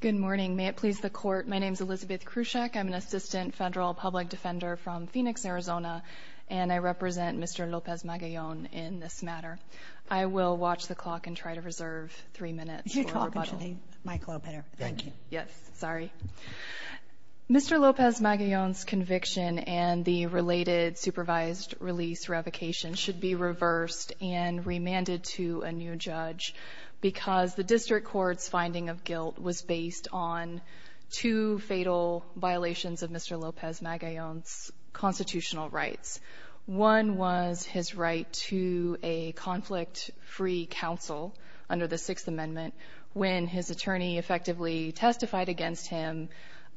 Good morning. May it please the Court, my name is Elizabeth Kruschek. I'm an Assistant Federal Public Defender from Phoenix, Arizona, and I represent Mr. Lopez-Magallon in this matter. I will watch the clock and try to reserve three minutes for rebuttal. You're talking to the microphone. Thank you. Yes, sorry. Mr. Lopez-Magallon's conviction and the related supervised release revocation should be reversed and remanded to a new judge because the District Court's finding of guilt was based on two fatal violations of Mr. Lopez-Magallon's constitutional rights. One was his right to a conflict-free counsel under the Sixth Amendment when his attorney effectively testified against him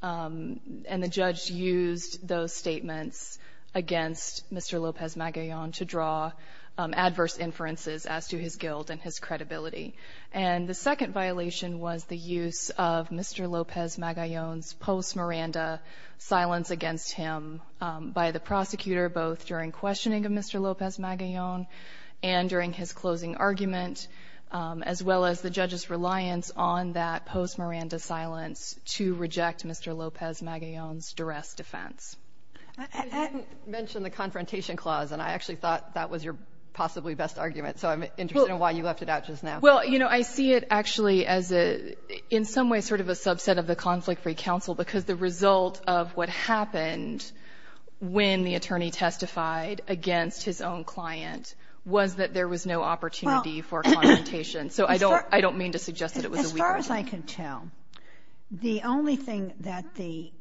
and the judge used those statements against Mr. Lopez-Magallon to draw adverse inferences as to his guilt and his credibility. And the second violation was the use of Mr. Lopez-Magallon's post-Miranda silence against him by the prosecutor, both during questioning of Mr. Lopez-Magallon and during his closing argument, as well as the judge's reliance on that post-Miranda silence to reject Mr. Lopez-Magallon's duress defense. You didn't mention the Confrontation Clause, and I actually thought that was your possibly best argument, so I'm interested in why you left it out just now. Well, you know, I see it actually as a, in some ways, sort of a subset of the conflict-free counsel because the result of what happened when the attorney testified against his own client was that there was no opportunity for confrontation. So I don't mean to suggest that it was a weakness. As far as I can tell, the only thing that the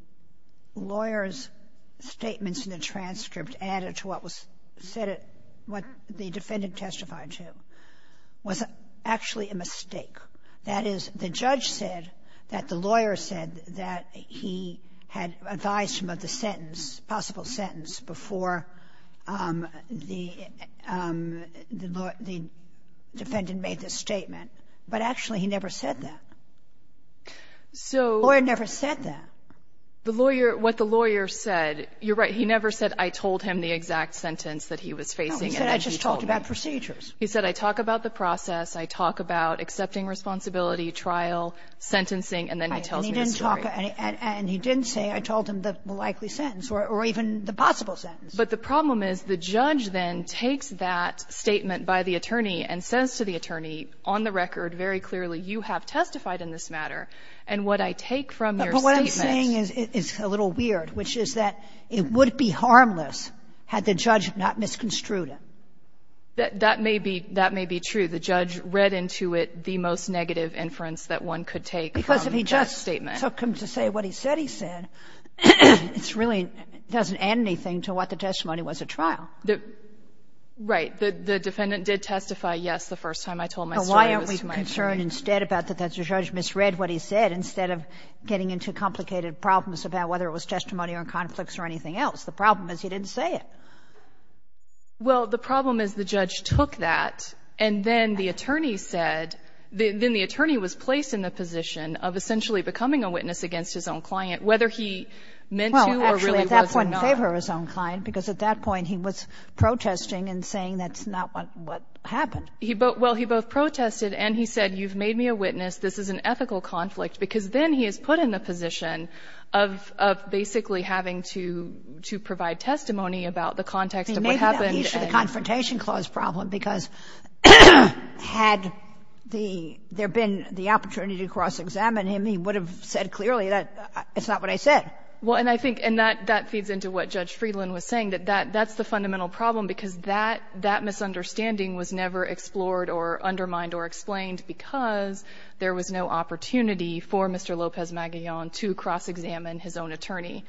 lawyer's statements in the transcript added to what was said at what the defendant testified to was actually a mistake. That is, the judge said that the lawyer said that he had advised him of the sentence, possible sentence, before the defendant made the statement. But actually, he never said that. The lawyer never said that. So the lawyer, what the lawyer said, you're right. He never said, I told him the exact sentence that he was facing. No, he said, I just talked about procedures. He said, I talk about the process, I talk about accepting responsibility, trial, sentencing, and then he tells me the story. And he didn't say, I told him the likely sentence or even the possible sentence. But the problem is the judge then takes that statement by the attorney and says to the attorney, on the record, very clearly, you have testified in this matter. And what I take from your statement --" Sotomayor, but what I'm saying is a little weird, which is that it would be harmless had the judge not misconstrued it. That may be true. The judge read into it the most negative inference that one could take from that statement. Because if he just took him to say what he said he said, it really doesn't add anything to what the testimony was at trial. Right. The defendant did testify, yes, the first time I told my story was to my attorney. But why aren't we concerned instead about that the judge misread what he said instead of getting into complicated problems about whether it was testimony or conflicts or anything else? The problem is he didn't say it. Well, the problem is the judge took that, and then the attorney said the attorney was placed in the position of essentially becoming a witness against his own client, whether he meant to or really was not. He didn't favor his own client, because at that point he was protesting and saying that's not what happened. Well, he both protested and he said, you've made me a witness, this is an ethical conflict, because then he is put in the position of basically having to provide testimony about the context of what happened. He made me a witness for the Confrontation Clause problem, because had there been the opportunity to cross-examine him, he would have said clearly that it's not what I said. Well, and I think that feeds into what Judge Friedland was saying, that that's the fundamental problem, because that misunderstanding was never explored or undermined or explained, because there was no opportunity for Mr. Lopez-Magillan to cross-examine his own attorney.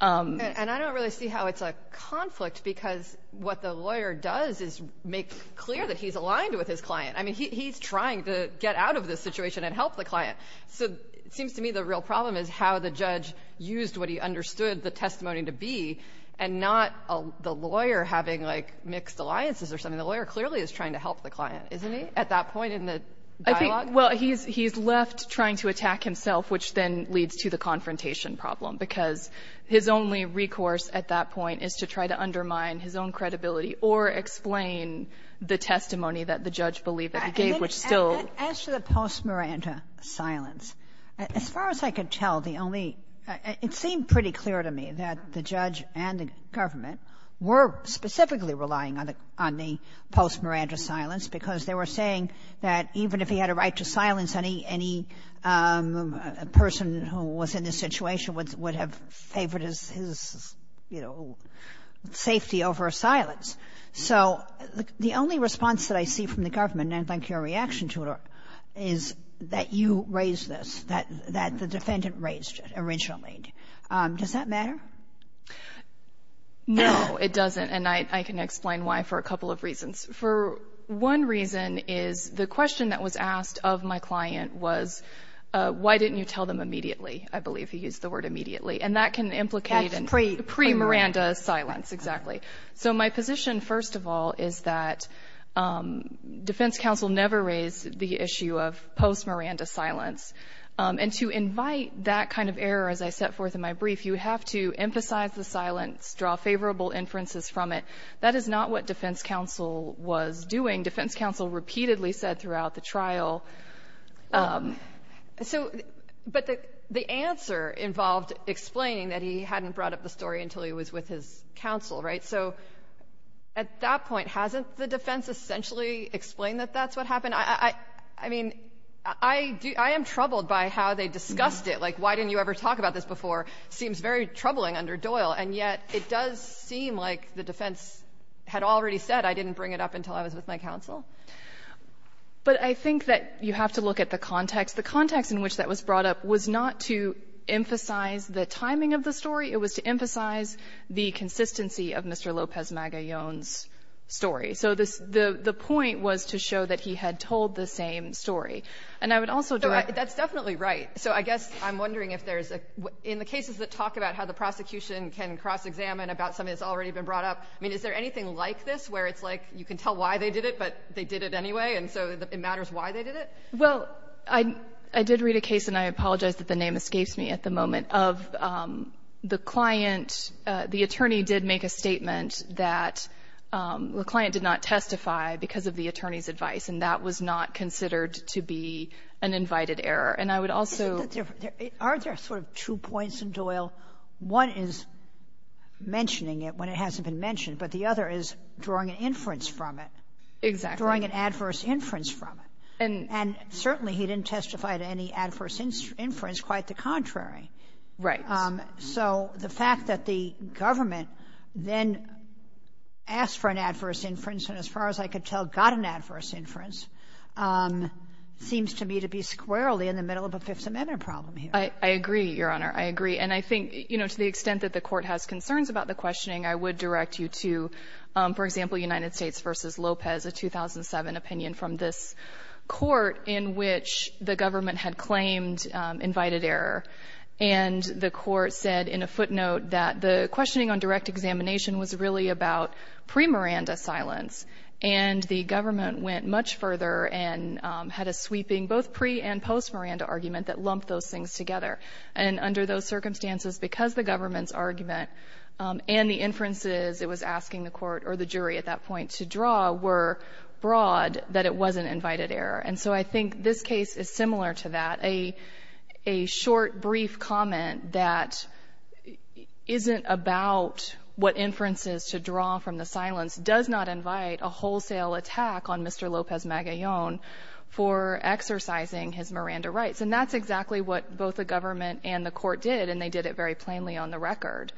And I don't really see how it's a conflict, because what the lawyer does is make clear that he's aligned with his client. I mean, he's trying to get out of this situation and help the client. So it seems to me the real problem is how the judge used what he understood the testimony to be, and not the lawyer having, like, mixed alliances or something. The lawyer clearly is trying to help the client, isn't he, at that point in the dialogue? I think, well, he's left trying to attack himself, which then leads to the confrontation problem, because his only recourse at that point is to try to undermine his own credibility or explain the testimony that the judge believed that he gave, which still was. As to the post-Miranda silence, as far as I could tell, the only — it seemed pretty clear to me that the judge and the government were specifically relying on the post-Miranda silence, because they were saying that even if he had a right to silence any person who was in this situation would have favored his, you know, safety over silence. So the only response that I see from the government, and I'd like your reaction to it, is that you raised this, that the defendant raised it originally. Does that matter? No, it doesn't, and I can explain why for a couple of reasons. For one reason is the question that was asked of my client was, why didn't you tell them immediately? I believe he used the word immediately. And that can implicate a pre-Miranda silence, exactly. So my position, first of all, is that defense counsel never raised the issue of post-Miranda silence. And to invite that kind of error, as I set forth in my brief, you have to emphasize the silence, draw favorable inferences from it. That is not what defense counsel was doing. Defense counsel repeatedly said throughout the trial — So — but the answer involved explaining that he hadn't brought up the story until he was with his counsel, right? So at that point, hasn't the defense essentially explained that that's what happened? I mean, I am troubled by how they discussed it. Like, why didn't you ever talk about this before seems very troubling under Doyle. And yet, it does seem like the defense had already said, I didn't bring it up until I was with my counsel. But I think that you have to look at the context. The context in which that was brought up was not to emphasize the timing of the story. It was to emphasize the consistency of Mr. Lopez-Magallon's story. So the point was to show that he had told the same story. And I would also direct — So that's definitely right. So I guess I'm wondering if there's a — in the cases that talk about how the prosecution can cross-examine about something that's already been brought up, I mean, is there anything like this where it's like you can tell why they did it, but they did it anyway, and so it matters why they did it? Well, I did read a case, and I apologize that the name escapes me at the moment, of the client — the attorney did make a statement that the client did not testify because of the attorney's advice, and that was not considered to be an invited error. And I would also — Aren't there sort of two points in Doyle? One is mentioning it when it hasn't been mentioned, but the other is drawing an inference from it. Exactly. Drawing an adverse inference from it. And certainly, he didn't testify to any adverse inference, quite the contrary. Right. So the fact that the government then asked for an adverse inference, and as far as I could tell, got an adverse inference, seems to me to be squarely in the middle of a Fifth Amendment problem here. I agree, Your Honor. I agree. And I think, you know, to the extent that the Court has concerns about the questioning, I would direct you to, for example, United States v. Lopez, a 2007 opinion from this And the Court said in a footnote that the questioning on direct examination was really about pre-Miranda silence, and the government went much further and had a sweeping both pre- and post-Miranda argument that lumped those things together. And under those circumstances, because the government's argument and the inferences it was asking the Court or the jury at that point to draw were broad, that it was an invited error. And so I think this case is similar to that. A short, brief comment that isn't about what inferences to draw from the silence does not invite a wholesale attack on Mr. Lopez Magallon for exercising his Miranda rights. And that's exactly what both the government and the Court did, and they did it very plainly on the record.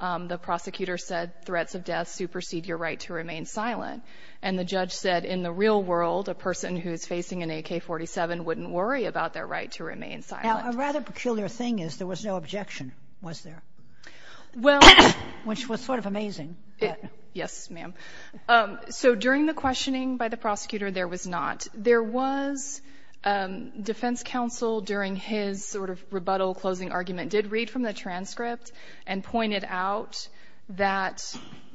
The prosecutor said threats of death supersede your right to remain silent. And the judge said in the real world, a person who's facing an AK-47 wouldn't worry about their right to remain silent. Now, a rather peculiar thing is there was no objection, was there? Well — Which was sort of amazing. Yes, ma'am. So during the questioning by the prosecutor, there was not. There was defense counsel during his sort of rebuttal closing argument did read from the transcript and pointed out that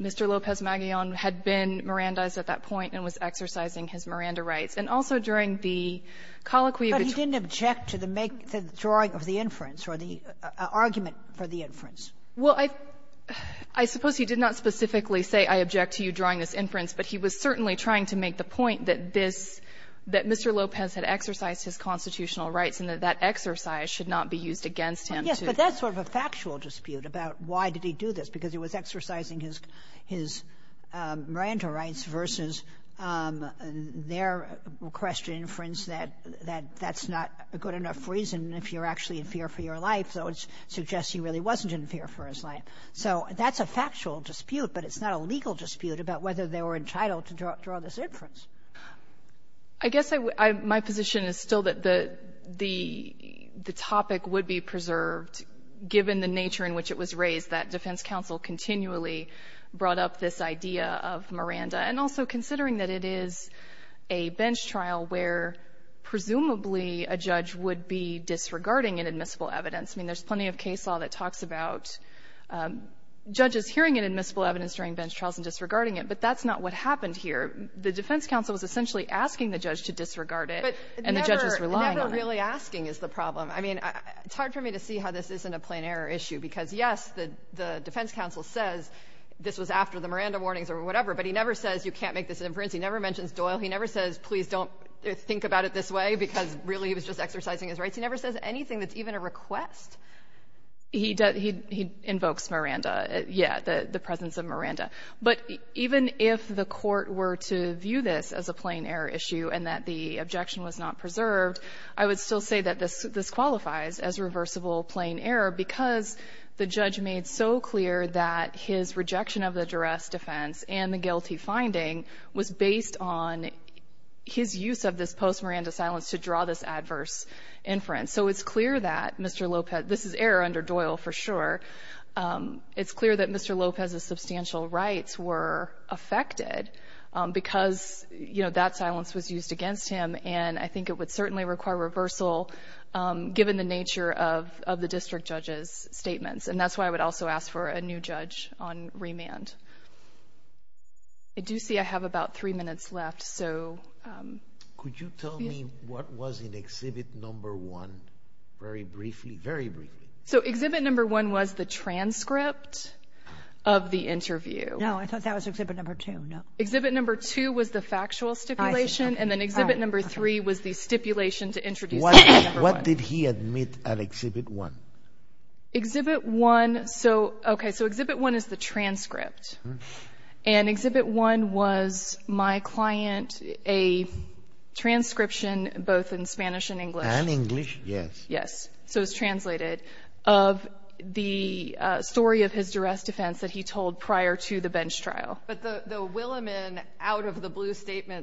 Mr. Lopez Magallon had been Mirandized at that point and was exercising his Miranda rights. And also during the colloquy — But he didn't object to the drawing of the inference or the argument for the inference. Well, I suppose he did not specifically say, I object to you drawing this inference, but he was certainly trying to make the point that this — that Mr. Lopez had exercised his constitutional rights and that that exercise should not be used against him to — Yes, but that's sort of a factual dispute about why did he do this, because he was exercising his — his Miranda rights versus their request to inference that — that that's not a good enough reason if you're actually in fear for your life, though it suggests he really wasn't in fear for his life. So that's a factual dispute, but it's not a legal dispute about whether they were entitled to draw this inference. I guess I — my position is still that the — the topic would be preserved given the brought up this idea of Miranda. And also considering that it is a bench trial where presumably a judge would be disregarding an admissible evidence. I mean, there's plenty of case law that talks about judges hearing an admissible evidence during bench trials and disregarding it. But that's not what happened here. The defense counsel was essentially asking the judge to disregard it, and the judge was relying on it. But never — never really asking is the problem. I mean, it's hard for me to see how this isn't a plain error issue, because, yes, the defense counsel says this was after the Miranda warnings or whatever, but he never says, you can't make this inference. He never mentions Doyle. He never says, please don't think about it this way, because really he was just exercising his rights. He never says anything that's even a request. MS. GOTTLIEB He — he invokes Miranda. Yeah, the presence of Miranda. But even if the court were to view this as a plain error issue and that the objection was not preserved, I would still say that this — this qualifies as reversible plain error because the judge made so clear that his rejection of the duress defense and the guilty finding was based on his use of this post-Miranda silence to draw this adverse inference. So it's clear that Mr. Lopez — this is error under Doyle for sure. It's clear that Mr. Lopez's substantial rights were affected because, you know, that silence was used against him. And I think it would certainly require reversal, given the nature of — of the district judge's statements. And that's why I would also ask for a new judge on remand. I do see I have about three minutes left. So — MR. LOPEZ-ESCALANTE Could you tell me what was in Exhibit No. 1 very briefly? Very briefly. MS. GOTTLIEB So Exhibit No. 1 was the transcript of the interview. MS. GOTTLIEB No, I thought that was Exhibit No. 2. No. MS. GOTTLIEB Exhibit No. 2 was the factual stipulation. And then Exhibit No. 3 was the stipulation to introduce — LOPEZ-ESCALANTE What did he admit at Exhibit 1? MS. GOTTLIEB Exhibit 1 — so — okay. So Exhibit 1 is the transcript. And Exhibit 1 was my client a transcription, both in Spanish and English. LOPEZ-ESCALANTE And English, yes. MS. GOTTLIEB Yes. So it's translated of the story of his duress defense that he told prior to the bench trial. MS. GOTTLIEB And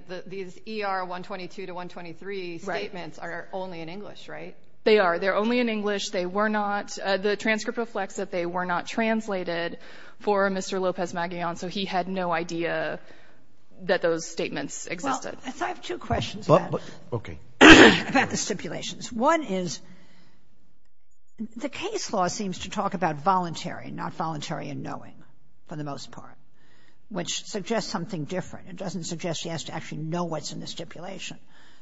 the PR-122-123 statements are only in English, right? GOTTLIEB They are. They're only in English. They were not — the transcript reflects that they were not translated for Mr. Lopez-Escalante, so he had no idea that those statements existed. MS. GOTTLIEB Well, I have two questions about the stipulations. One is, the case law seems to talk about voluntary, not voluntary in knowing, for the most part, which suggests something different. It doesn't suggest he has to actually know what's in the stipulation,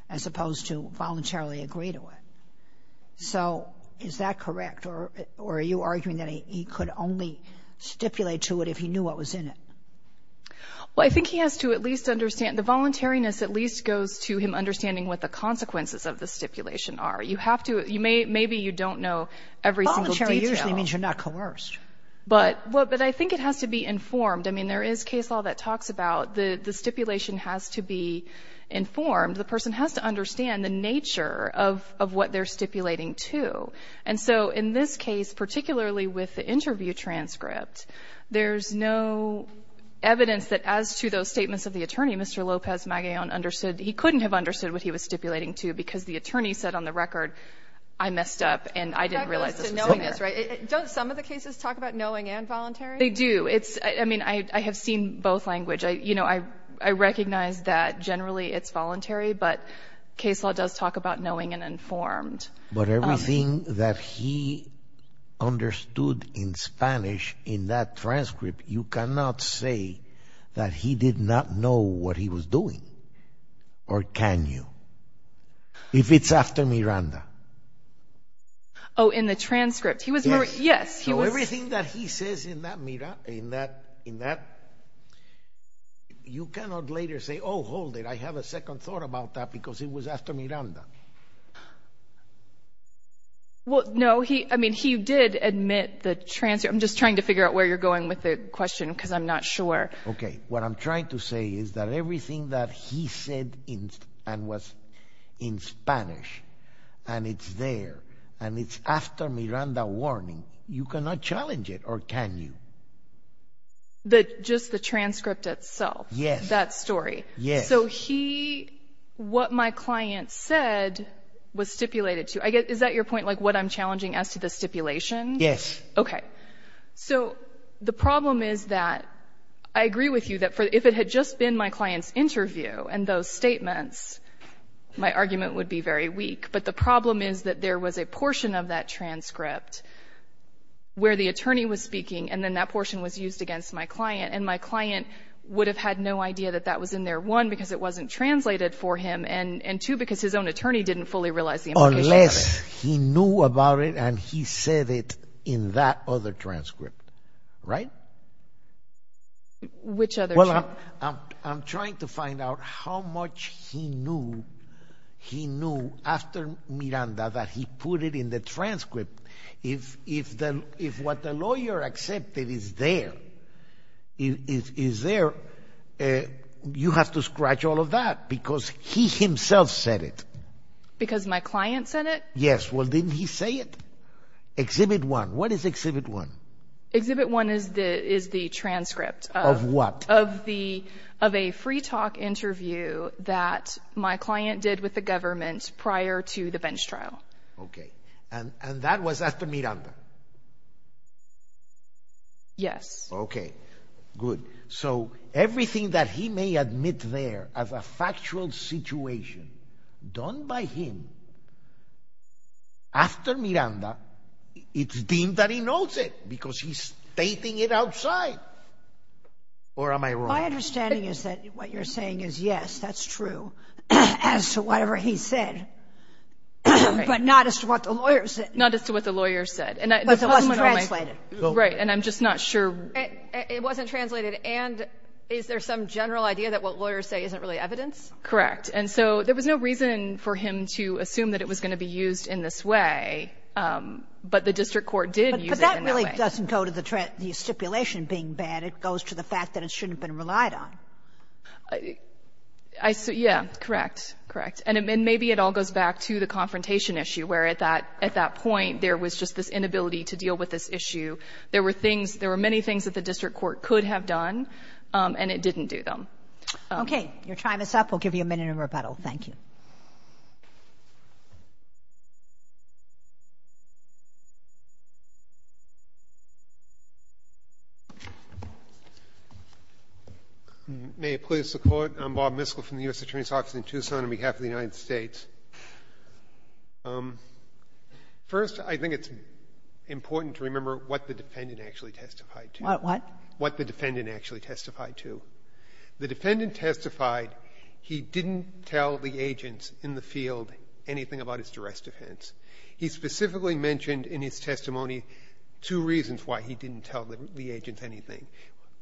as opposed to voluntarily agree to it. So is that correct? Or are you arguing that he could only stipulate to it if he knew what was in it? MS. GOTTLIEB Well, I think he has to at least understand — the voluntariness at least goes to him understanding what the consequences of the stipulation are. You have to — you may — maybe you don't know every single detail. MS. GOTTLIEB Voluntary usually means you're not coerced. MS. GOTTLIEB But — well, but I think it has to be informed. I mean, there is case law that talks about the stipulation has to be informed. The person has to understand the nature of what they're stipulating to. And so in this case, particularly with the interview transcript, there's no evidence that as to those statements of the attorney, Mr. Lopez-Magallon understood — he couldn't have understood what he was stipulating to because the attorney said on the record, I messed up and I didn't realize this was in there. MS. GOTTLIEB That goes to knowingness, right? Don't some of the cases talk about knowing and voluntary? MS. GOTTLIEB They do. It's — I mean, I have seen both language. I — you know, I recognize that generally it's voluntary, but case law does talk about knowing and informed. MR. LOPEZ-MAGALLON But everything that he understood in Spanish in that transcript, you cannot say that he did not know what he was doing. Or can you? If it's after Miranda. MS. GOTTLIEB Oh, in the transcript. He was — yes, he was — in that — you cannot later say, oh, hold it, I have a second thought about that because it was after Miranda. GOTTLIEB Well, no, he — I mean, he did admit the transcript. I'm just trying to figure out where you're going with the question because I'm not sure. MR. LOPEZ-MAGALLON Okay. What I'm trying to say is that everything that he said in — and was in Spanish, and it's there, and it's after Miranda warning, you cannot challenge it. Or can you? The — just the transcript itself. MS. MR. LOPEZ-MAGALLON Yes. MS. GOTTLIEB So he — what my client said was stipulated to — I guess — is that your point, like what I'm challenging as to the stipulation? MR. LOPEZ-MAGALLON Yes. MS. GOTTLIEB Okay. So the problem is that — I agree with you that for — if it had just been my client's interview and those statements, my argument would be very weak. But the problem is that there was a portion of that transcript where the attorney was used against my client, and my client would have had no idea that that was in there, one, because it wasn't translated for him, and two, because his own attorney didn't fully realize the implication of it. MR. LOPEZ-MAGALLON Unless he knew about it and he said it in that other transcript, right? GOTTLIEB Which other transcript? MR. LOPEZ-MAGALLON Well, I'm trying to find out how much he knew after Miranda that he put it in the transcript. If what the lawyer accepted is there, you have to scratch all of that, because he himself MS. GOTTLIEB Because my client said it? MR. LOPEZ-MAGALLON Yes. Well, didn't he say it? Exhibit one. What is exhibit one? MS. GOTTLIEB Exhibit one is the transcript — MR. LOPEZ-MAGALLON Of what? GOTTLIEB — of a free talk interview that my client did with the government prior to the bench trial. MR. LOPEZ-MAGALLON Okay. And that was after Miranda? GOTTLIEB Yes. MR. LOPEZ-MAGALLON Okay. Good. So everything that he may admit there as a factual situation done by him after Miranda, it's deemed that he knows it because he's stating it outside. Or am I wrong? MS. GOTTLIEB My understanding is that what you're saying is, yes, that's true as to whatever he said, but not as to what the lawyers said. LOPEZ-MAGALLON Not as to what the lawyers said. MS. GOTTLIEB But it wasn't translated. MS. LOPEZ-MAGALLON Right. And I'm just not sure — MS. GOTTLIEB It wasn't translated. And is there some general idea that what lawyers say isn't really evidence? MS. LOPEZ-MAGALLON Correct. And so there was no reason for him to assume that it was going to be used in this way, but the district court did use it in that way. MS. GOTTLIEB But that really doesn't go to the stipulation being bad. It goes to the fact that it shouldn't have been relied on. MS. LOPEZ-MAGALLON Yeah. Correct. Correct. And maybe it all goes back to the confrontation issue, where at that point, there was just this inability to deal with this issue. There were things — there were many things that the district court could have done, and it didn't do them. MS. GOTTLIEB Okay. Your time is up. We'll give you a minute of rebuttal. Thank you. MR. MISKELL May it please the Court. I'm Bob Miskell from the U.S. Attorney's Office in Tucson on behalf of the United States. First, I think it's important to remember what the defendant actually testified to. MS. GOTTLIEB What? MR. MISKELL What the defendant actually testified to. The defendant testified he didn't tell the agents in the field anything about his duress defense. He specifically mentioned in his testimony two reasons why he didn't tell the agents anything.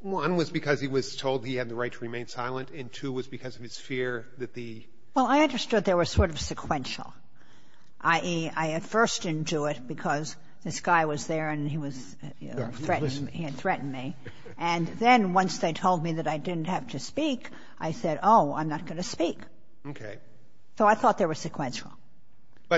One was because he was told he had the right to remain silent, and two was because of his fear that the — MS. GOTTLIEB Well, I understood they were sort of sequential, i.e., I at first didn't do it because this guy was there and he was — he had threatened me. And then once they told me that I didn't have to speak, I said, oh, I'm not going to speak. MR. MISKELL Okay. MS. GOTTLIEB So I thought they were sequential. MR.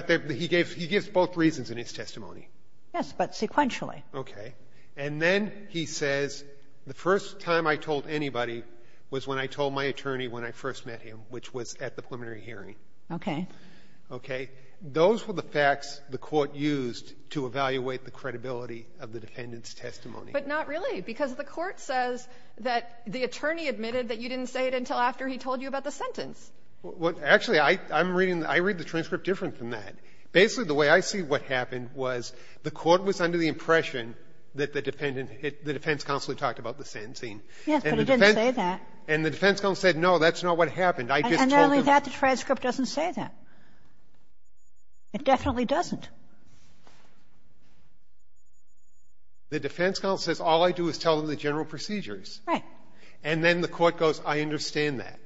MISKELL But he gave — he gives both reasons in his testimony. MS. GOTTLIEB Yes, but sequentially. MR. MISKELL Okay. And then he says the first time I told anybody was when I told my attorney when I first met him, which was at the preliminary hearing. MS. MR. MISKELL Okay. Those were the facts the Court used to evaluate the credibility of the defendant's testimony. MS. GOTTLIEB But not really, because the Court says that the attorney admitted that you didn't say it until after he told you about the sentence. MR. MISKELL Well, actually, I'm reading — I read the transcript different than that. Basically, the way I see what happened was the Court was under the impression that the defendant — the defense counsel had talked about the sentencing. GOTTLIEB Yes, but it didn't say that. MR. MISKELL And the defense counsel said, no, that's not what happened. I just told them — MS. GOTTLIEB And not only that, the transcript doesn't say that. It definitely doesn't. MISKELL The defense counsel says all I do is tell them the general procedures. MS. GOTTLIEB Right. MR. MISKELL And then the Court goes, I understand that.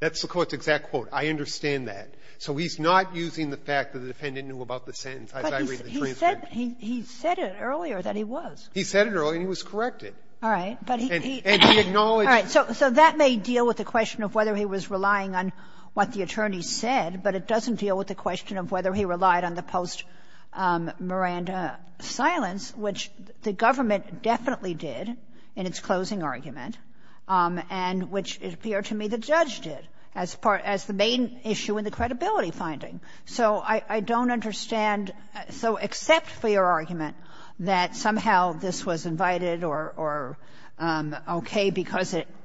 That's the Court's exact quote, I understand that. So he's not using the fact that the defendant knew about the sentence as I read the MS. GOTTLIEB But he said it earlier that he was. MR. MISKELL He said it earlier and he was corrected. GOTTLIEB All right. But he — MR. MISKELL And he acknowledged — MS. GOTTLIEB All right. So that may deal with the question of whether he was relying on what the attorney said, but it doesn't deal with the question of whether he relied on the post-Miranda silence, which the government definitely did in its closing argument, and which, it appeared to me, the judge did as part — as the main issue in the credibility finding. So I don't understand — so except for your argument that somehow this was invited or okay because it —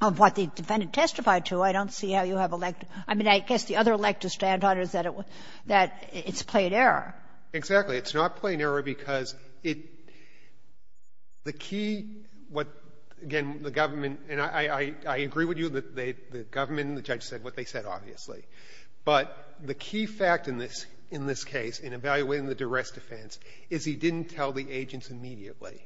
of what the defendant testified to, I don't see how you have elect — I mean, I guess the other elect to stand on is that it was — that it's plain error. MR. MISKELL Exactly. It's not plain error because it — the key — what, again, the government — and I agree with you that the government and the judge said what they said, obviously. But the key fact in this — in this case, in evaluating the duress defense, is he didn't tell the agents immediately.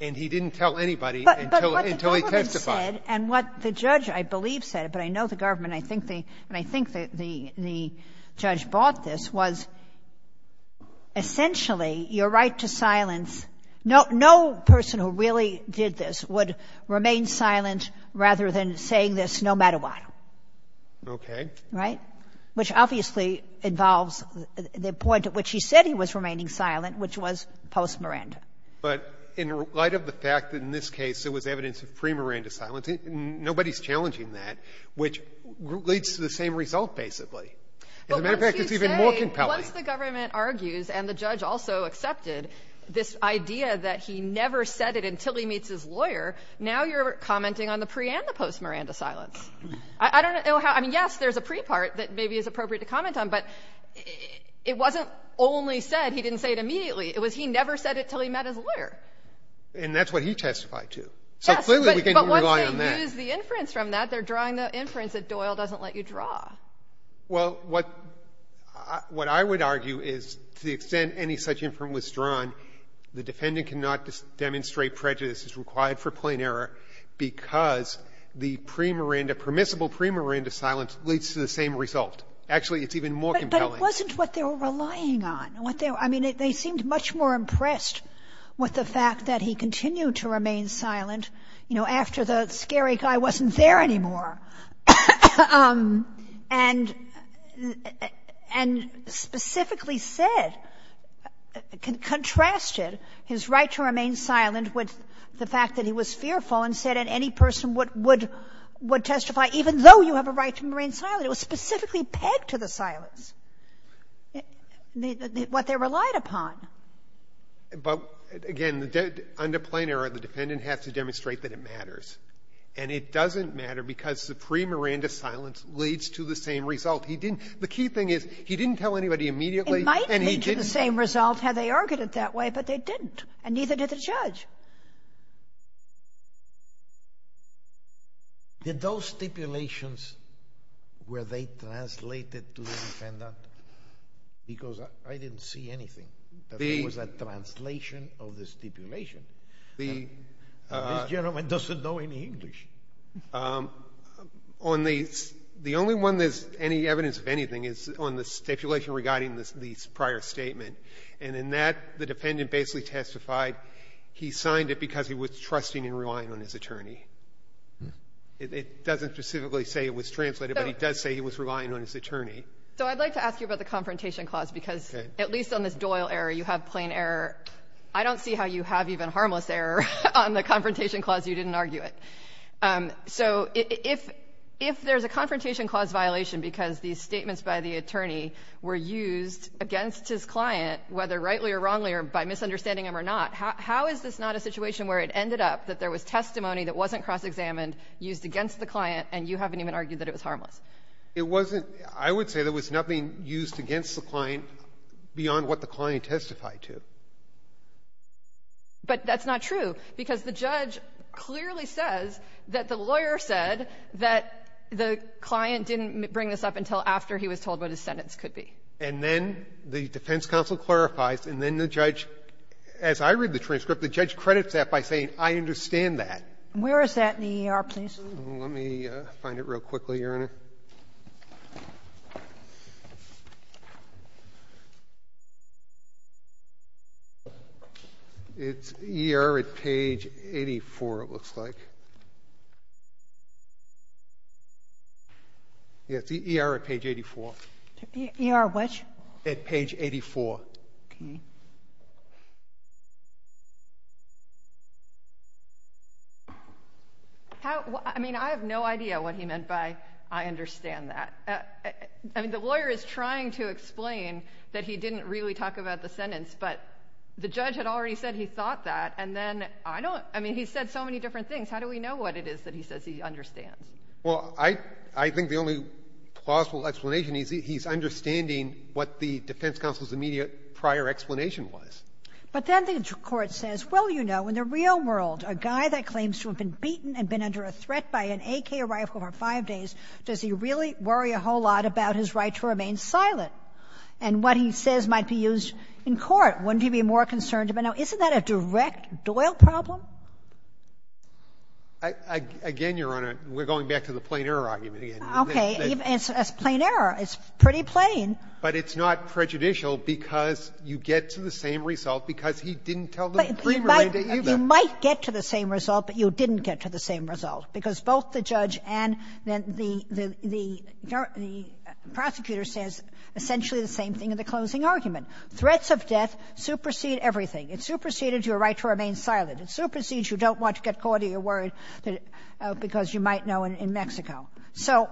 And he didn't tell anybody until — until he testified. GOTTLIEB But what the government said and what the judge, I believe, said, but I know the government, I think the — and I think the — the judge brought this, was essentially your right to silence — no — no person who really did this would MR. MISKELL Okay. GOTTLIEB Right. Which obviously involves the point at which he said he was remaining silent, which MR. MISKELL But in light of the fact that in this case it was evidence of pre-Miranda silence, nobody's challenging that, which leads to the same result, basically. As a matter of fact, it's even more compelling. MS. CARRINGTON But once you say — once the government argues and the judge also accepted this idea that he never said it until he meets his lawyer, now you're commenting on the pre- and the post-Miranda silence. I don't know how — I mean, yes, there's a pre- part that maybe is appropriate to comment on, but it wasn't only said. He didn't say it immediately. It was he never said it until he met his lawyer. GOTTLIEB And that's what he testified to. MS. CARRINGTON Yes. GOTTLIEB So clearly we can't rely on that. MS. CARRINGTON But once they use the inference from that, they're drawing the inference that Doyle doesn't let you draw. GOTTLIEB Well, what — what I would argue is to the extent any such inference was drawn, the defendant cannot demonstrate prejudice as required for plain error because the pre-Miranda — permissible pre-Miranda silence leads to the same result. Actually, it's even more compelling. MS. CARRINGTON But it wasn't what they were relying on. What they — I mean, they seemed much more impressed with the fact that he continued to remain silent, you know, after the scary guy wasn't there anymore, and — and specifically said — contrasted his right to remain silent with the fact that he was fearful and said that any person would — would testify even though you have a right to remain silent. It was specifically pegged to the silence, what they relied upon. GOTTLIEB But again, under plain error, the defendant has to demonstrate that it matters. And it doesn't matter because the pre-Miranda silence leads to the same result. He didn't — the key thing is, he didn't tell anybody immediately, and he didn't — MS. CARRINGTON It might lead to the same result had they argued it that way, but they didn't, and neither did the judge. Did those stipulations, were they translated to the defendant? Because I didn't see anything that was a translation of the stipulation. This gentleman doesn't know any English. MR. CARRINGTON The only one there's any evidence of anything is on the stipulation regarding the prior statement. And in that, the defendant basically testified he signed it because he was trusting and relying on his attorney. It doesn't specifically say it was translated, but it does say he was relying on his attorney. MS. CARRINGTON So I'd like to ask you about the confrontation clause, because at least on this Doyle error, you have plain error. I don't see how you have even harmless error on the confrontation clause. You didn't argue it. So if — if there's a confrontation clause violation because these statements by the whether rightly or wrongly or by misunderstanding them or not, how is this not a situation where it ended up that there was testimony that wasn't cross-examined, used against the client, and you haven't even argued that it was harmless? MR. CARRINGTON It wasn't — I would say there was nothing used against the client beyond what the client testified to. MS. CARRINGTON But that's not true, because the judge clearly says that the lawyer said that the client didn't bring this up until after he was told what his sentence could be. And then the defense counsel clarifies, and then the judge, as I read the transcript, the judge credits that by saying, I understand that. Sotomayor Where is that in the ER, please? MR. CARRINGTON Let me find it real quickly, Your Honor. It's ER at page 84, it looks like. Yes, it's ER at page 84. MS. SOTOMAYOR ER which? MR. CARRINGTON At page 84. MS. SOTOMAYOR Okay. How — I mean, I have no idea what he meant by, I understand that. I mean, the lawyer is trying to explain that he didn't really talk about the sentence, but the judge had already said he thought that, and then I don't — I mean, he said so many different things. How do we know what it is that he says he understands? MR. CARRINGTON I mean, he's understanding what the defense counsel's immediate prior MS. SOTOMAYOR But then the court says, well, you know, in the real world, a guy that claims to have been beaten and been under a threat by an AK rifle for five days, does he really worry a whole lot about his right to remain silent? And what he says might be used in court. Wouldn't he be more concerned about — now, isn't that a direct Doyle problem? MR. CARRINGTON Again, Your Honor, we're going back to the plain error argument again. MS. SOTOMAYOR Okay. And it's a plain error. It's pretty plain. MR. CARRINGTON But it's not prejudicial because you get to the same result because he didn't tell the Supreme Court that either. MS. SOTOMAYOR You might get to the same result, but you didn't get to the same result because both the judge and the prosecutor says essentially the same thing in the closing argument. Threats of death supersede everything. It supersedes your right to remain silent. It supersedes you don't want to get caught or you're worried because you might know in Mexico. So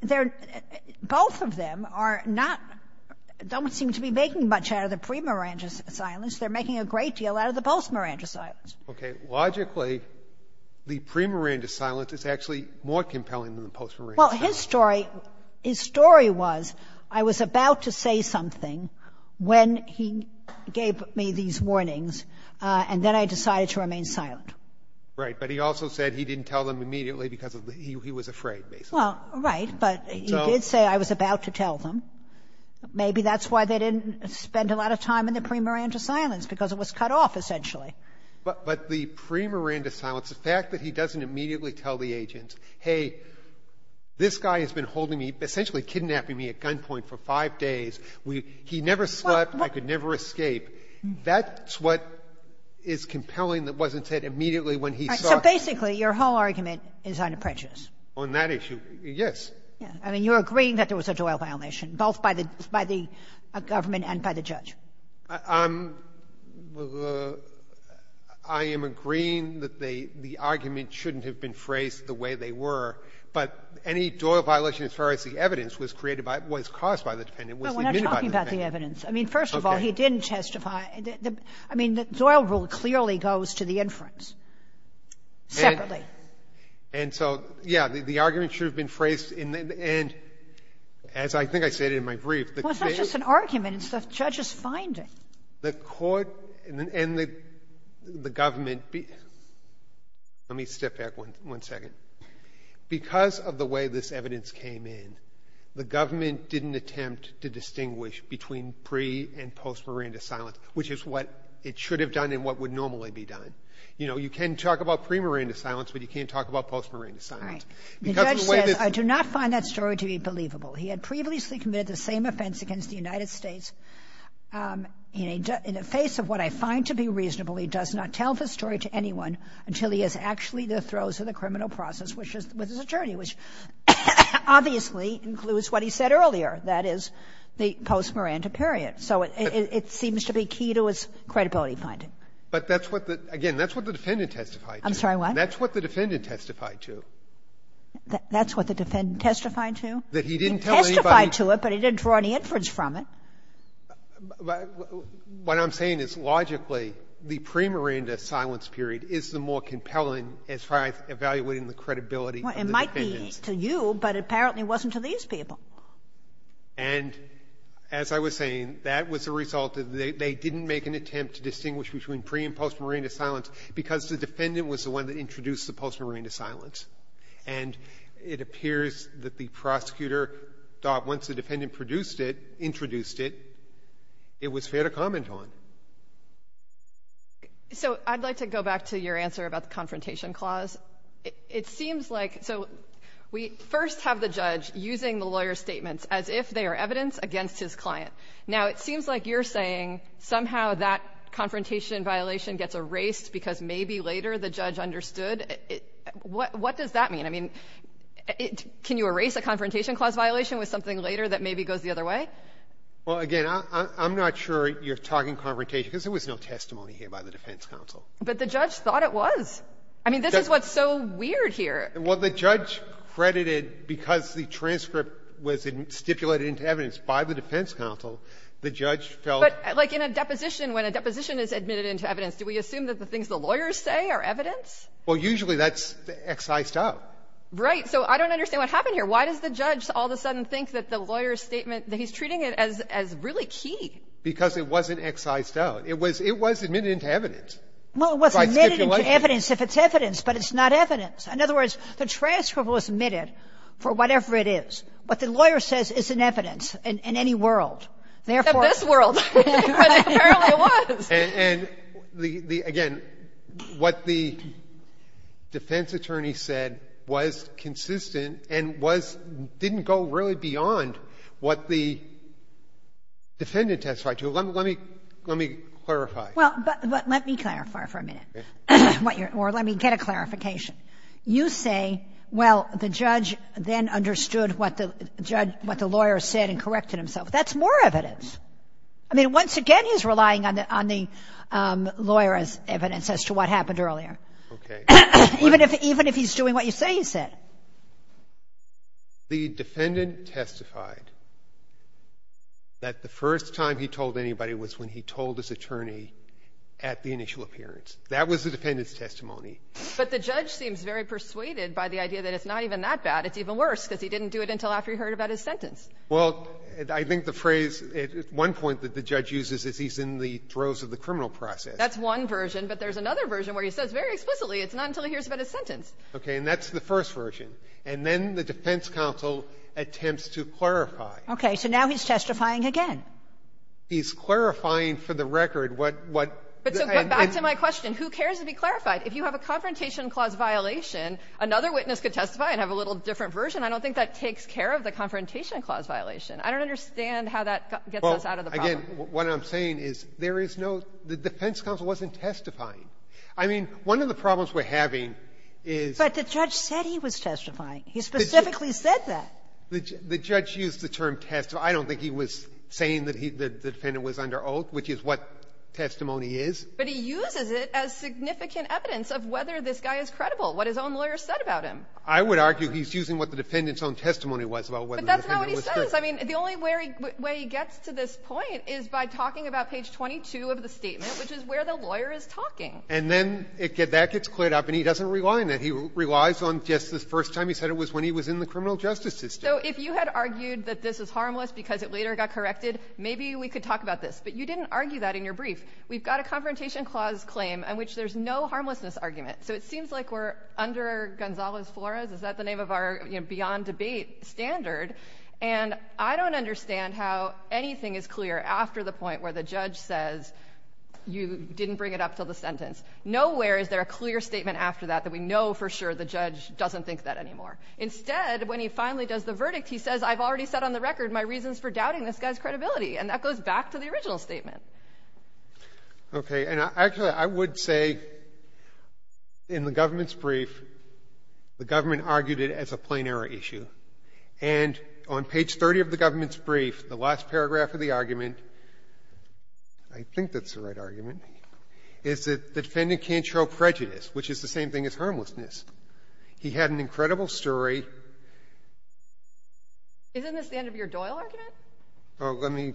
they're — both of them are not — don't seem to be making much out of the pre-Miranda silence. They're making a great deal out of the post-Miranda silence. MR. CARRINGTON Okay. Logically, the pre-Miranda silence is actually more compelling than the post-Miranda silence. MS. SOTOMAYOR Well, his story — his story was I was about to say something when he gave me these warnings, and then I decided to remain silent. MR. CARRINGTON Right. But he also said he didn't tell them immediately because he was afraid, basically. SOTOMAYOR Well, right. But he did say I was about to tell them. Maybe that's why they didn't spend a lot of time in the pre-Miranda silence, because it was cut off, essentially. MR. CARRINGTON But the pre-Miranda silence, the fact that he doesn't immediately tell the agent, hey, this guy has been holding me, essentially kidnapping me at gunpoint for five days. We — he never slept. I could never escape. That's what is compelling that wasn't said immediately when he saw it. SOTOMAYOR So basically, your whole argument is unapprecious. MR. CARRINGTON On that issue, yes. MS. SOTOMAYOR I mean, you're agreeing that there was a Doyle violation, both by the — by the government and by the judge. MR. CARRINGTON I am agreeing that the argument shouldn't have been phrased the way they were, but any Doyle violation as far as the evidence was created by — was caused by the defendant was admitted by the defendant. MS. SOTOMAYOR We're not talking about the evidence. I mean, first of all, he didn't testify. I mean, the Doyle rule clearly goes to the inference. Separately. CARRINGTON And so, yes, the argument should have been phrased in the — and as I think I said in my brief, the case — MS. SOTOMAYOR Well, it's not just an argument. It's the judge's finding. MR. CARRINGTON The court and the government — let me step back one second. Because of the way this evidence came in, the government didn't attempt to distinguish between pre- and post-Miranda silence, which is what it should have done and what would normally be done. You know, you can talk about pre-Miranda silence, but you can't talk about post-Miranda SOTOMAYOR All right. The judge says, I do not find that story to be believable. He had previously committed the same offense against the United States. In a — in the face of what I find to be reasonable, he does not tell the story to anyone until he is actually the throes of the criminal process, which is — with his attorney, which obviously includes what he said earlier, that is, the post-Miranda period. So it seems to be key to his credibility finding. But that's what the — again, that's what the defendant testified to. SOTOMAYOR I'm sorry. What? CARRINGTON That's what the defendant testified to. SOTOMAYOR That's what the defendant testified to? CARRINGTON That he didn't tell anybody — SOTOMAYOR He testified to it, but he didn't draw any inference from it. CARRINGTON What I'm saying is, logically, the pre-Miranda silence period is the more compelling as far as evaluating the credibility of the defendants. SOTOMAYOR Well, it might be to you, but apparently it wasn't to these people. CARRINGTON And as I was saying, that was a result of they didn't make an attempt to distinguish between pre- and post-Miranda silence because the defendant was the one that introduced the post-Miranda silence. And it appears that the prosecutor thought once the defendant produced it, introduced it, it was fair to comment on. SOTOMAYOR So I'd like to go back to your answer about the confrontation clause. It seems like — so we first have the judge using the lawyer's statements as if they are evidence against his client. Now, it seems like you're saying somehow that confrontation violation gets erased because maybe later the judge understood. What does that mean? I mean, can you erase a confrontation clause violation with something later that maybe goes the other way? CARRINGTON Well, again, I'm not sure you're talking confrontation because there was no testimony here by the defense counsel. SOTOMAYOR But the judge thought it was. I mean, this is what's so weird here. CARRINGTON Well, the judge credited because the transcript was stipulated into evidence by the defense counsel, the judge felt — SOTOMAYOR But like in a deposition, when a deposition is admitted into evidence, do we assume that the things the lawyers say are evidence? CARRINGTON Well, usually that's excised out. SOTOMAYOR Right. So I don't understand what happened here. Why does the judge all of a sudden think that the lawyer's statement, that he's treating it as really key? CARRINGTON Because it wasn't excised out. It was — it was admitted into evidence by stipulation. Kagan Well, it was admitted into evidence if it's evidence, but it's not evidence. In other words, the transcript was admitted for whatever it is. What the lawyer says isn't evidence in any world. SOTOMAYOR In this world, but it apparently was. CARRINGTON And the — again, what the defense attorney said was consistent and was — didn't go really beyond what the defendant testified to. Let me — let me clarify. SOTOMAYOR Well, but let me clarify for a minute what you're — or let me get a clarification. You say, well, the judge then understood what the judge — what the lawyer said and corrected himself. That's more evidence. I mean, once again, he's relying on the — on the lawyer as evidence as to what happened CARRINGTON Okay. SOTOMAYOR Even if — even if he's doing what you say he said. CARRINGTON The defendant testified that the first time he told anybody was when he told his attorney at the initial appearance. That was the defendant's testimony. SOTOMAYOR But the judge seems very persuaded by the idea that it's not even that bad. It's even worse because he didn't do it until after he heard about his sentence. CARRINGTON Well, I think the phrase at one point that the judge uses is he's in the throes of the criminal process. SOTOMAYOR That's one version. But there's another version where he says very explicitly it's not until he hears about his sentence. CARRINGTON Okay. And that's the first version. And then the defense counsel attempts to clarify. KAGAN Okay. So now he's testifying again. CARRINGTON He's clarifying for the record what — what — SOTOMAYOR But back to my question, who cares to be clarified? If you have a Confrontation Clause violation, another witness could testify and have a little different version. I don't think that takes care of the Confrontation Clause violation. I don't understand how that gets us out of the problem. CARRINGTON Well, again, what I'm saying is there is no — the defense counsel wasn't testifying. I mean, one of the problems we're having is — SOTOMAYOR But the judge said he was testifying. He specifically said that. CARRINGTON The judge used the term testifying. I don't think he was saying that he — that the defendant was under oath, which is what testimony is. SOTOMAYOR But he uses it as significant evidence of whether this guy is credible, what his own lawyer said about him. CARRINGTON I would argue he's using what the defendant's own testimony was about SOTOMAYOR But that's not what he says. I mean, the only way he gets to this point is by talking about page 22 of the statement, which is where the lawyer is talking. CARRINGTON And then that gets cleared up, and he doesn't rely on it. He relies on just the first time he said it was when he was in the criminal justice system. SOTOMAYOR So if you had argued that this is harmless because it later got corrected, maybe we could talk about this. But you didn't argue that in your brief. We've got a Confrontation Clause claim in which there's no harmlessness argument. So it seems like we're under Gonzalo's Flores — is that the name of our Beyond Debate standard? And I don't understand how anything is clear after the point where the judge says you didn't bring it up until the sentence. Nowhere is there a clear statement after that that we know for sure the judge doesn't think that anymore. Instead, when he finally does the verdict, he says, I've already set on the record my reasons for doubting this guy's credibility. And that goes back to the original statement. JUSTICE BREYER Okay. And actually, I would say in the government's brief, the government argued it as a plain error issue. And on page 30 of the government's brief, the last paragraph of the argument — I think that's the right argument — is that the defendant can't show prejudice, which is the same thing as harmlessness. He had an incredible story — SOTOMAYOR Isn't this the end of your Doyle argument? JUSTICE BREYER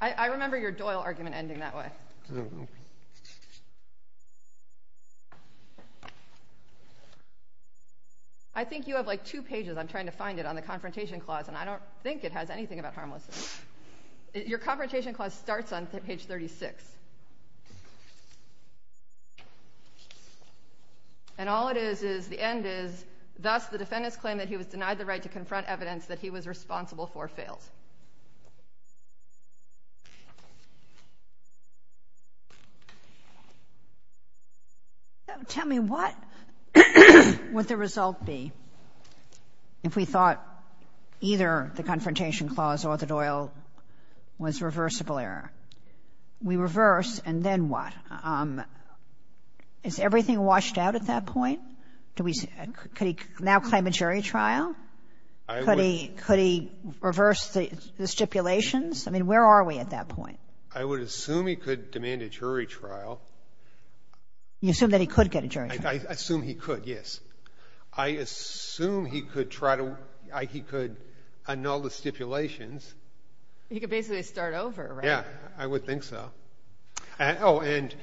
I remember your Doyle argument ending that way. I think you have, like, two pages — I'm trying to find it — on the Confrontation Clause, and I don't think it has anything about harmlessness. Your Confrontation Clause starts on page 36. And all it is, is the end is, thus the defendant's claim that he was denied the right to confront is evidence that he was responsible for fails. SOTOMAYOR Tell me, what would the result be if we thought either the Confrontation Clause or the Doyle was reversible error? We reverse, and then what? Is everything washed out at that point? Could he now claim a jury trial? Could he reverse the stipulations? I mean, where are we at that point? JUSTICE BREYER I would assume he could demand a jury trial. SOTOMAYOR You assume that he could get a jury trial? JUSTICE BREYER I assume he could, yes. I assume he could try to — he could annul the stipulations. SOTOMAYOR He could basically start over, right? JUSTICE BREYER Yeah, I would think so. Oh, and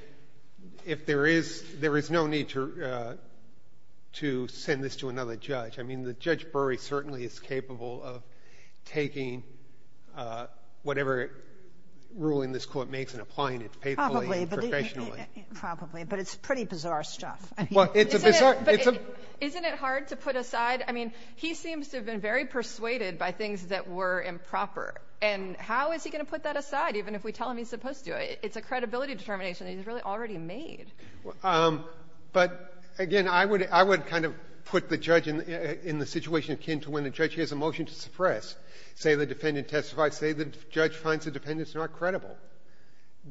if there is — there is no need to send this to another judge. I mean, the Judge Bury certainly is capable of taking whatever ruling this Court makes and applying it faithfully and professionally. SOTOMAYOR Probably, but it's pretty bizarre stuff. JUSTICE BREYER Well, it's a bizarre — it's a — SOTOMAYOR Isn't it hard to put aside? I mean, he seems to have been very persuaded by things that were improper. And how is he going to put that aside, even if we tell him he's supposed to? It's a credibility determination that he's really already made. JUSTICE BREYER But, again, I would kind of put the judge in the situation akin to when a judge hears a motion to suppress. Say the defendant testifies. Say the judge finds the defendant's not credible.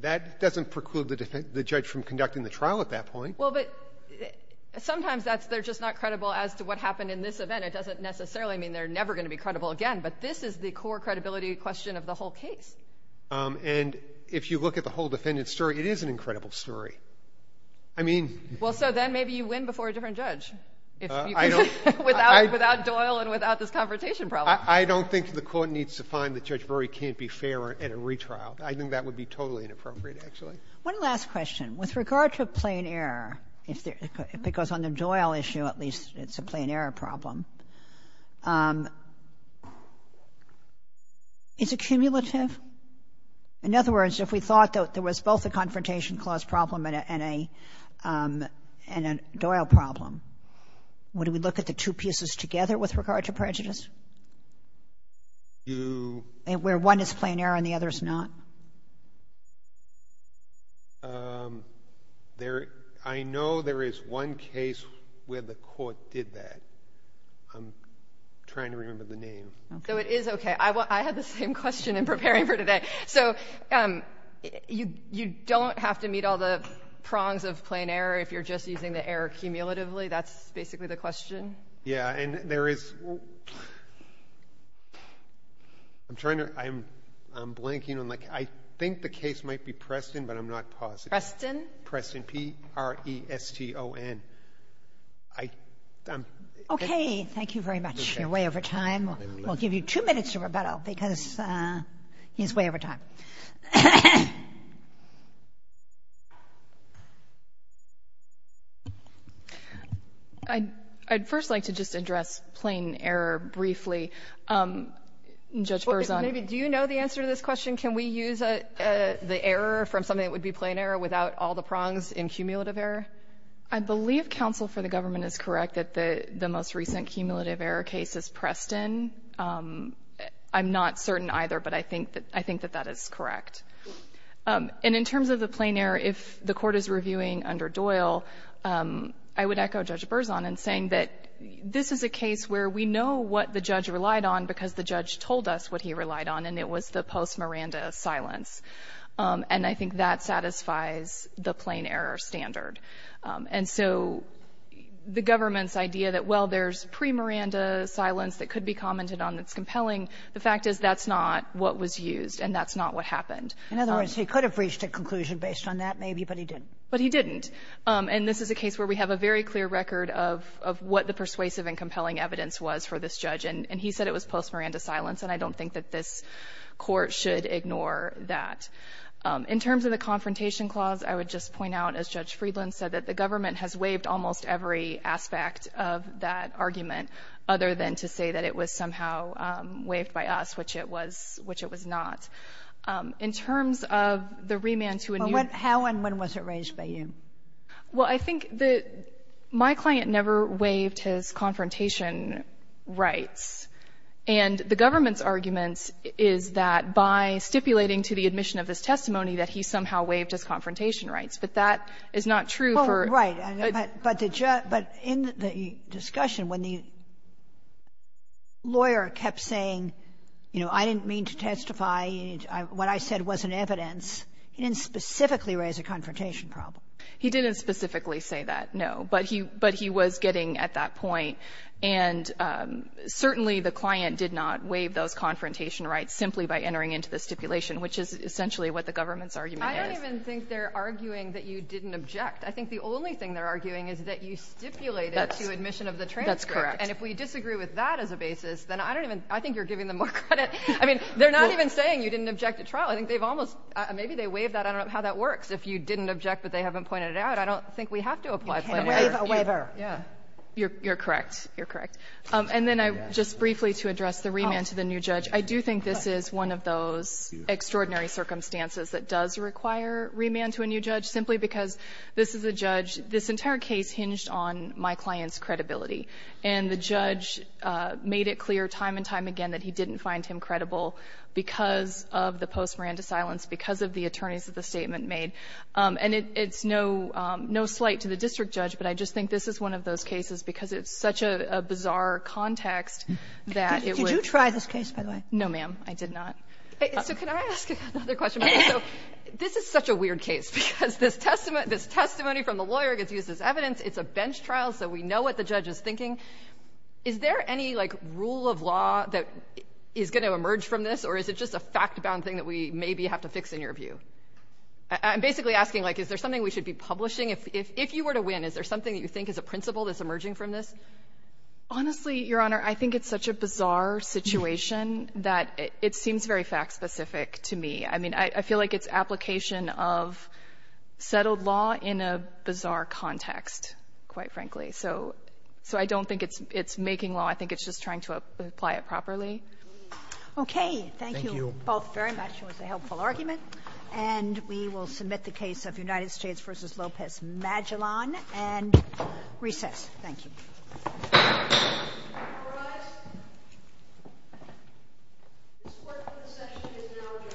That doesn't preclude the judge from conducting the trial at that point. SOTOMAYOR Well, but sometimes that's — they're just not credible as to what happened in this event. It doesn't necessarily mean they're never going to be credible again. But this is the core credibility question of the whole case. JUSTICE BREYER And if you look at the whole defendant's story, it is an incredible story. I mean — SOTOMAYOR Well, so then maybe you win before a different judge. JUSTICE BREYER I don't — SOTOMAYOR Without Doyle and without this confrontation problem. JUSTICE BREYER I don't think the Court needs to find that Judge Breyer can't be fair at a retrial. I think that would be totally inappropriate, actually. KAGAN One last question. With regard to plain error, if there — because on the Doyle issue, at least, it's a plain error problem. Is it cumulative? In other words, if we thought that there was both a confrontation clause problem and a Doyle problem, would we look at the two pieces together with regard to prejudice? JUSTICE BREYER You — KAGAN Where one is plain error and the other is not? JUSTICE BREYER There — I know there is one case where the Court did that. I'm trying to remember the name. SOTOMAYOR So it is okay. I had the same question in preparing for today. So you don't have to meet all the prongs of plain error if you're just using the error cumulatively? That's basically the question? JUSTICE BREYER Yeah. And there is — I'm trying to — I'm blanking on — I think the case might be Preston, but I'm not positive. SOTOMAYOR Preston? JUSTICE BREYER Preston. P-r-e-s-t-o-n. SOTOMAYOR Okay. Thank you very much. You're way over time. We'll give you two minutes to rebuttal because he's way over time. QUESTION I'd first like to just address plain error briefly. Judge Berzon — SOTOMAYOR Maybe — do you know the answer to this question? Can we use the error from something that would be plain error without all the prongs in cumulative error? QUESTION I believe counsel for the government is correct that the most recent cumulative error case is Preston. I'm not certain either, but I think that that is correct. And in terms of the plain error, if the Court is reviewing under Doyle, I would echo Judge Berzon in saying that this is a case where we know what the judge relied on because the judge told us what he relied on, and it was the post-Miranda silence. And I think that satisfies the plain error standard. And so the government's idea that, well, there's pre-Miranda silence that could be commented on that's compelling, the fact is that's not what was used and that's not what happened. SOTOMAYOR In other words, he could have reached a conclusion based on that maybe, but he didn't. QUESTION But he didn't. And this is a case where we have a very clear record of what the persuasive and compelling evidence was for this judge, and he said it was post-Miranda silence, and I don't think that this Court should ignore that. In terms of the confrontation clause, I would just point out, as Judge Friedland said, that the government has waived almost every aspect of that argument other than to say that it was somehow waived by us, which it was not. In terms of the remand to a new... SOTOMAYOR How and when was it raised by you? QUESTION Well, I think that my client never waived his confrontation rights. And the government's argument is that by stipulating to the admission of this testimony that he somehow waived his confrontation rights. But that is not true for... SOTOMAYOR Oh, right. But in the discussion, when the lawyer kept saying, you know, I didn't mean to testify, what I said wasn't evidence, he didn't specifically raise a confrontation problem. QUESTION He didn't specifically say that, no. But he was getting at that point. And certainly the client did not waive those confrontation rights simply by entering into the stipulation, which is essentially what the government's argument is. SOTOMAYOR I don't even think they're arguing that you didn't object. I think the only thing they're arguing is that you stipulated to admission of the transcript. And if we disagree with that as a basis, then I don't even, I think you're giving them more credit. I mean, they're not even saying you didn't object at trial. I think they've almost, maybe they waived that, I don't know how that works. If you didn't object, but they haven't pointed it out, I don't think we have to apply... SOTOMAYOR You can't waive a waiver. QUESTION Yeah. You're correct. You're correct. And then I, just briefly to address the remand to the new judge, I do think this is one of those extraordinary circumstances that does require remand to a new judge, simply because this is a judge, this entire case hinged on my client's credibility. And the judge made it clear time and time again that he didn't find him credible because of the post-Miranda silence, because of the attorneys that the statement made. And it's no, no slight to the district judge, but I just think this is one of those cases because it's such a bizarre context that it would... No, ma'am. I did not. SOTOMAYOR So can I ask another question? This is such a weird case because this testimony from the lawyer gets used as evidence. It's a bench trial, so we know what the judge is thinking. Is there any, like, rule of law that is going to emerge from this, or is it just a fact-bound thing that we maybe have to fix in your view? I'm basically asking, like, is there something we should be publishing? If you were to win, is there something that you think is a principle that's emerging from this? Honestly, Your Honor, I think it's such a bizarre situation that it seems very fact-specific to me. I mean, I feel like it's application of settled law in a bizarre context, quite frankly. So I don't think it's making law. I think it's just trying to apply it properly. Okay. Thank you both very much. It was a helpful argument. And we will submit the case of United States v. Lopez Magellan and recess. Thank you. All rise. This court for the session is now adjourned.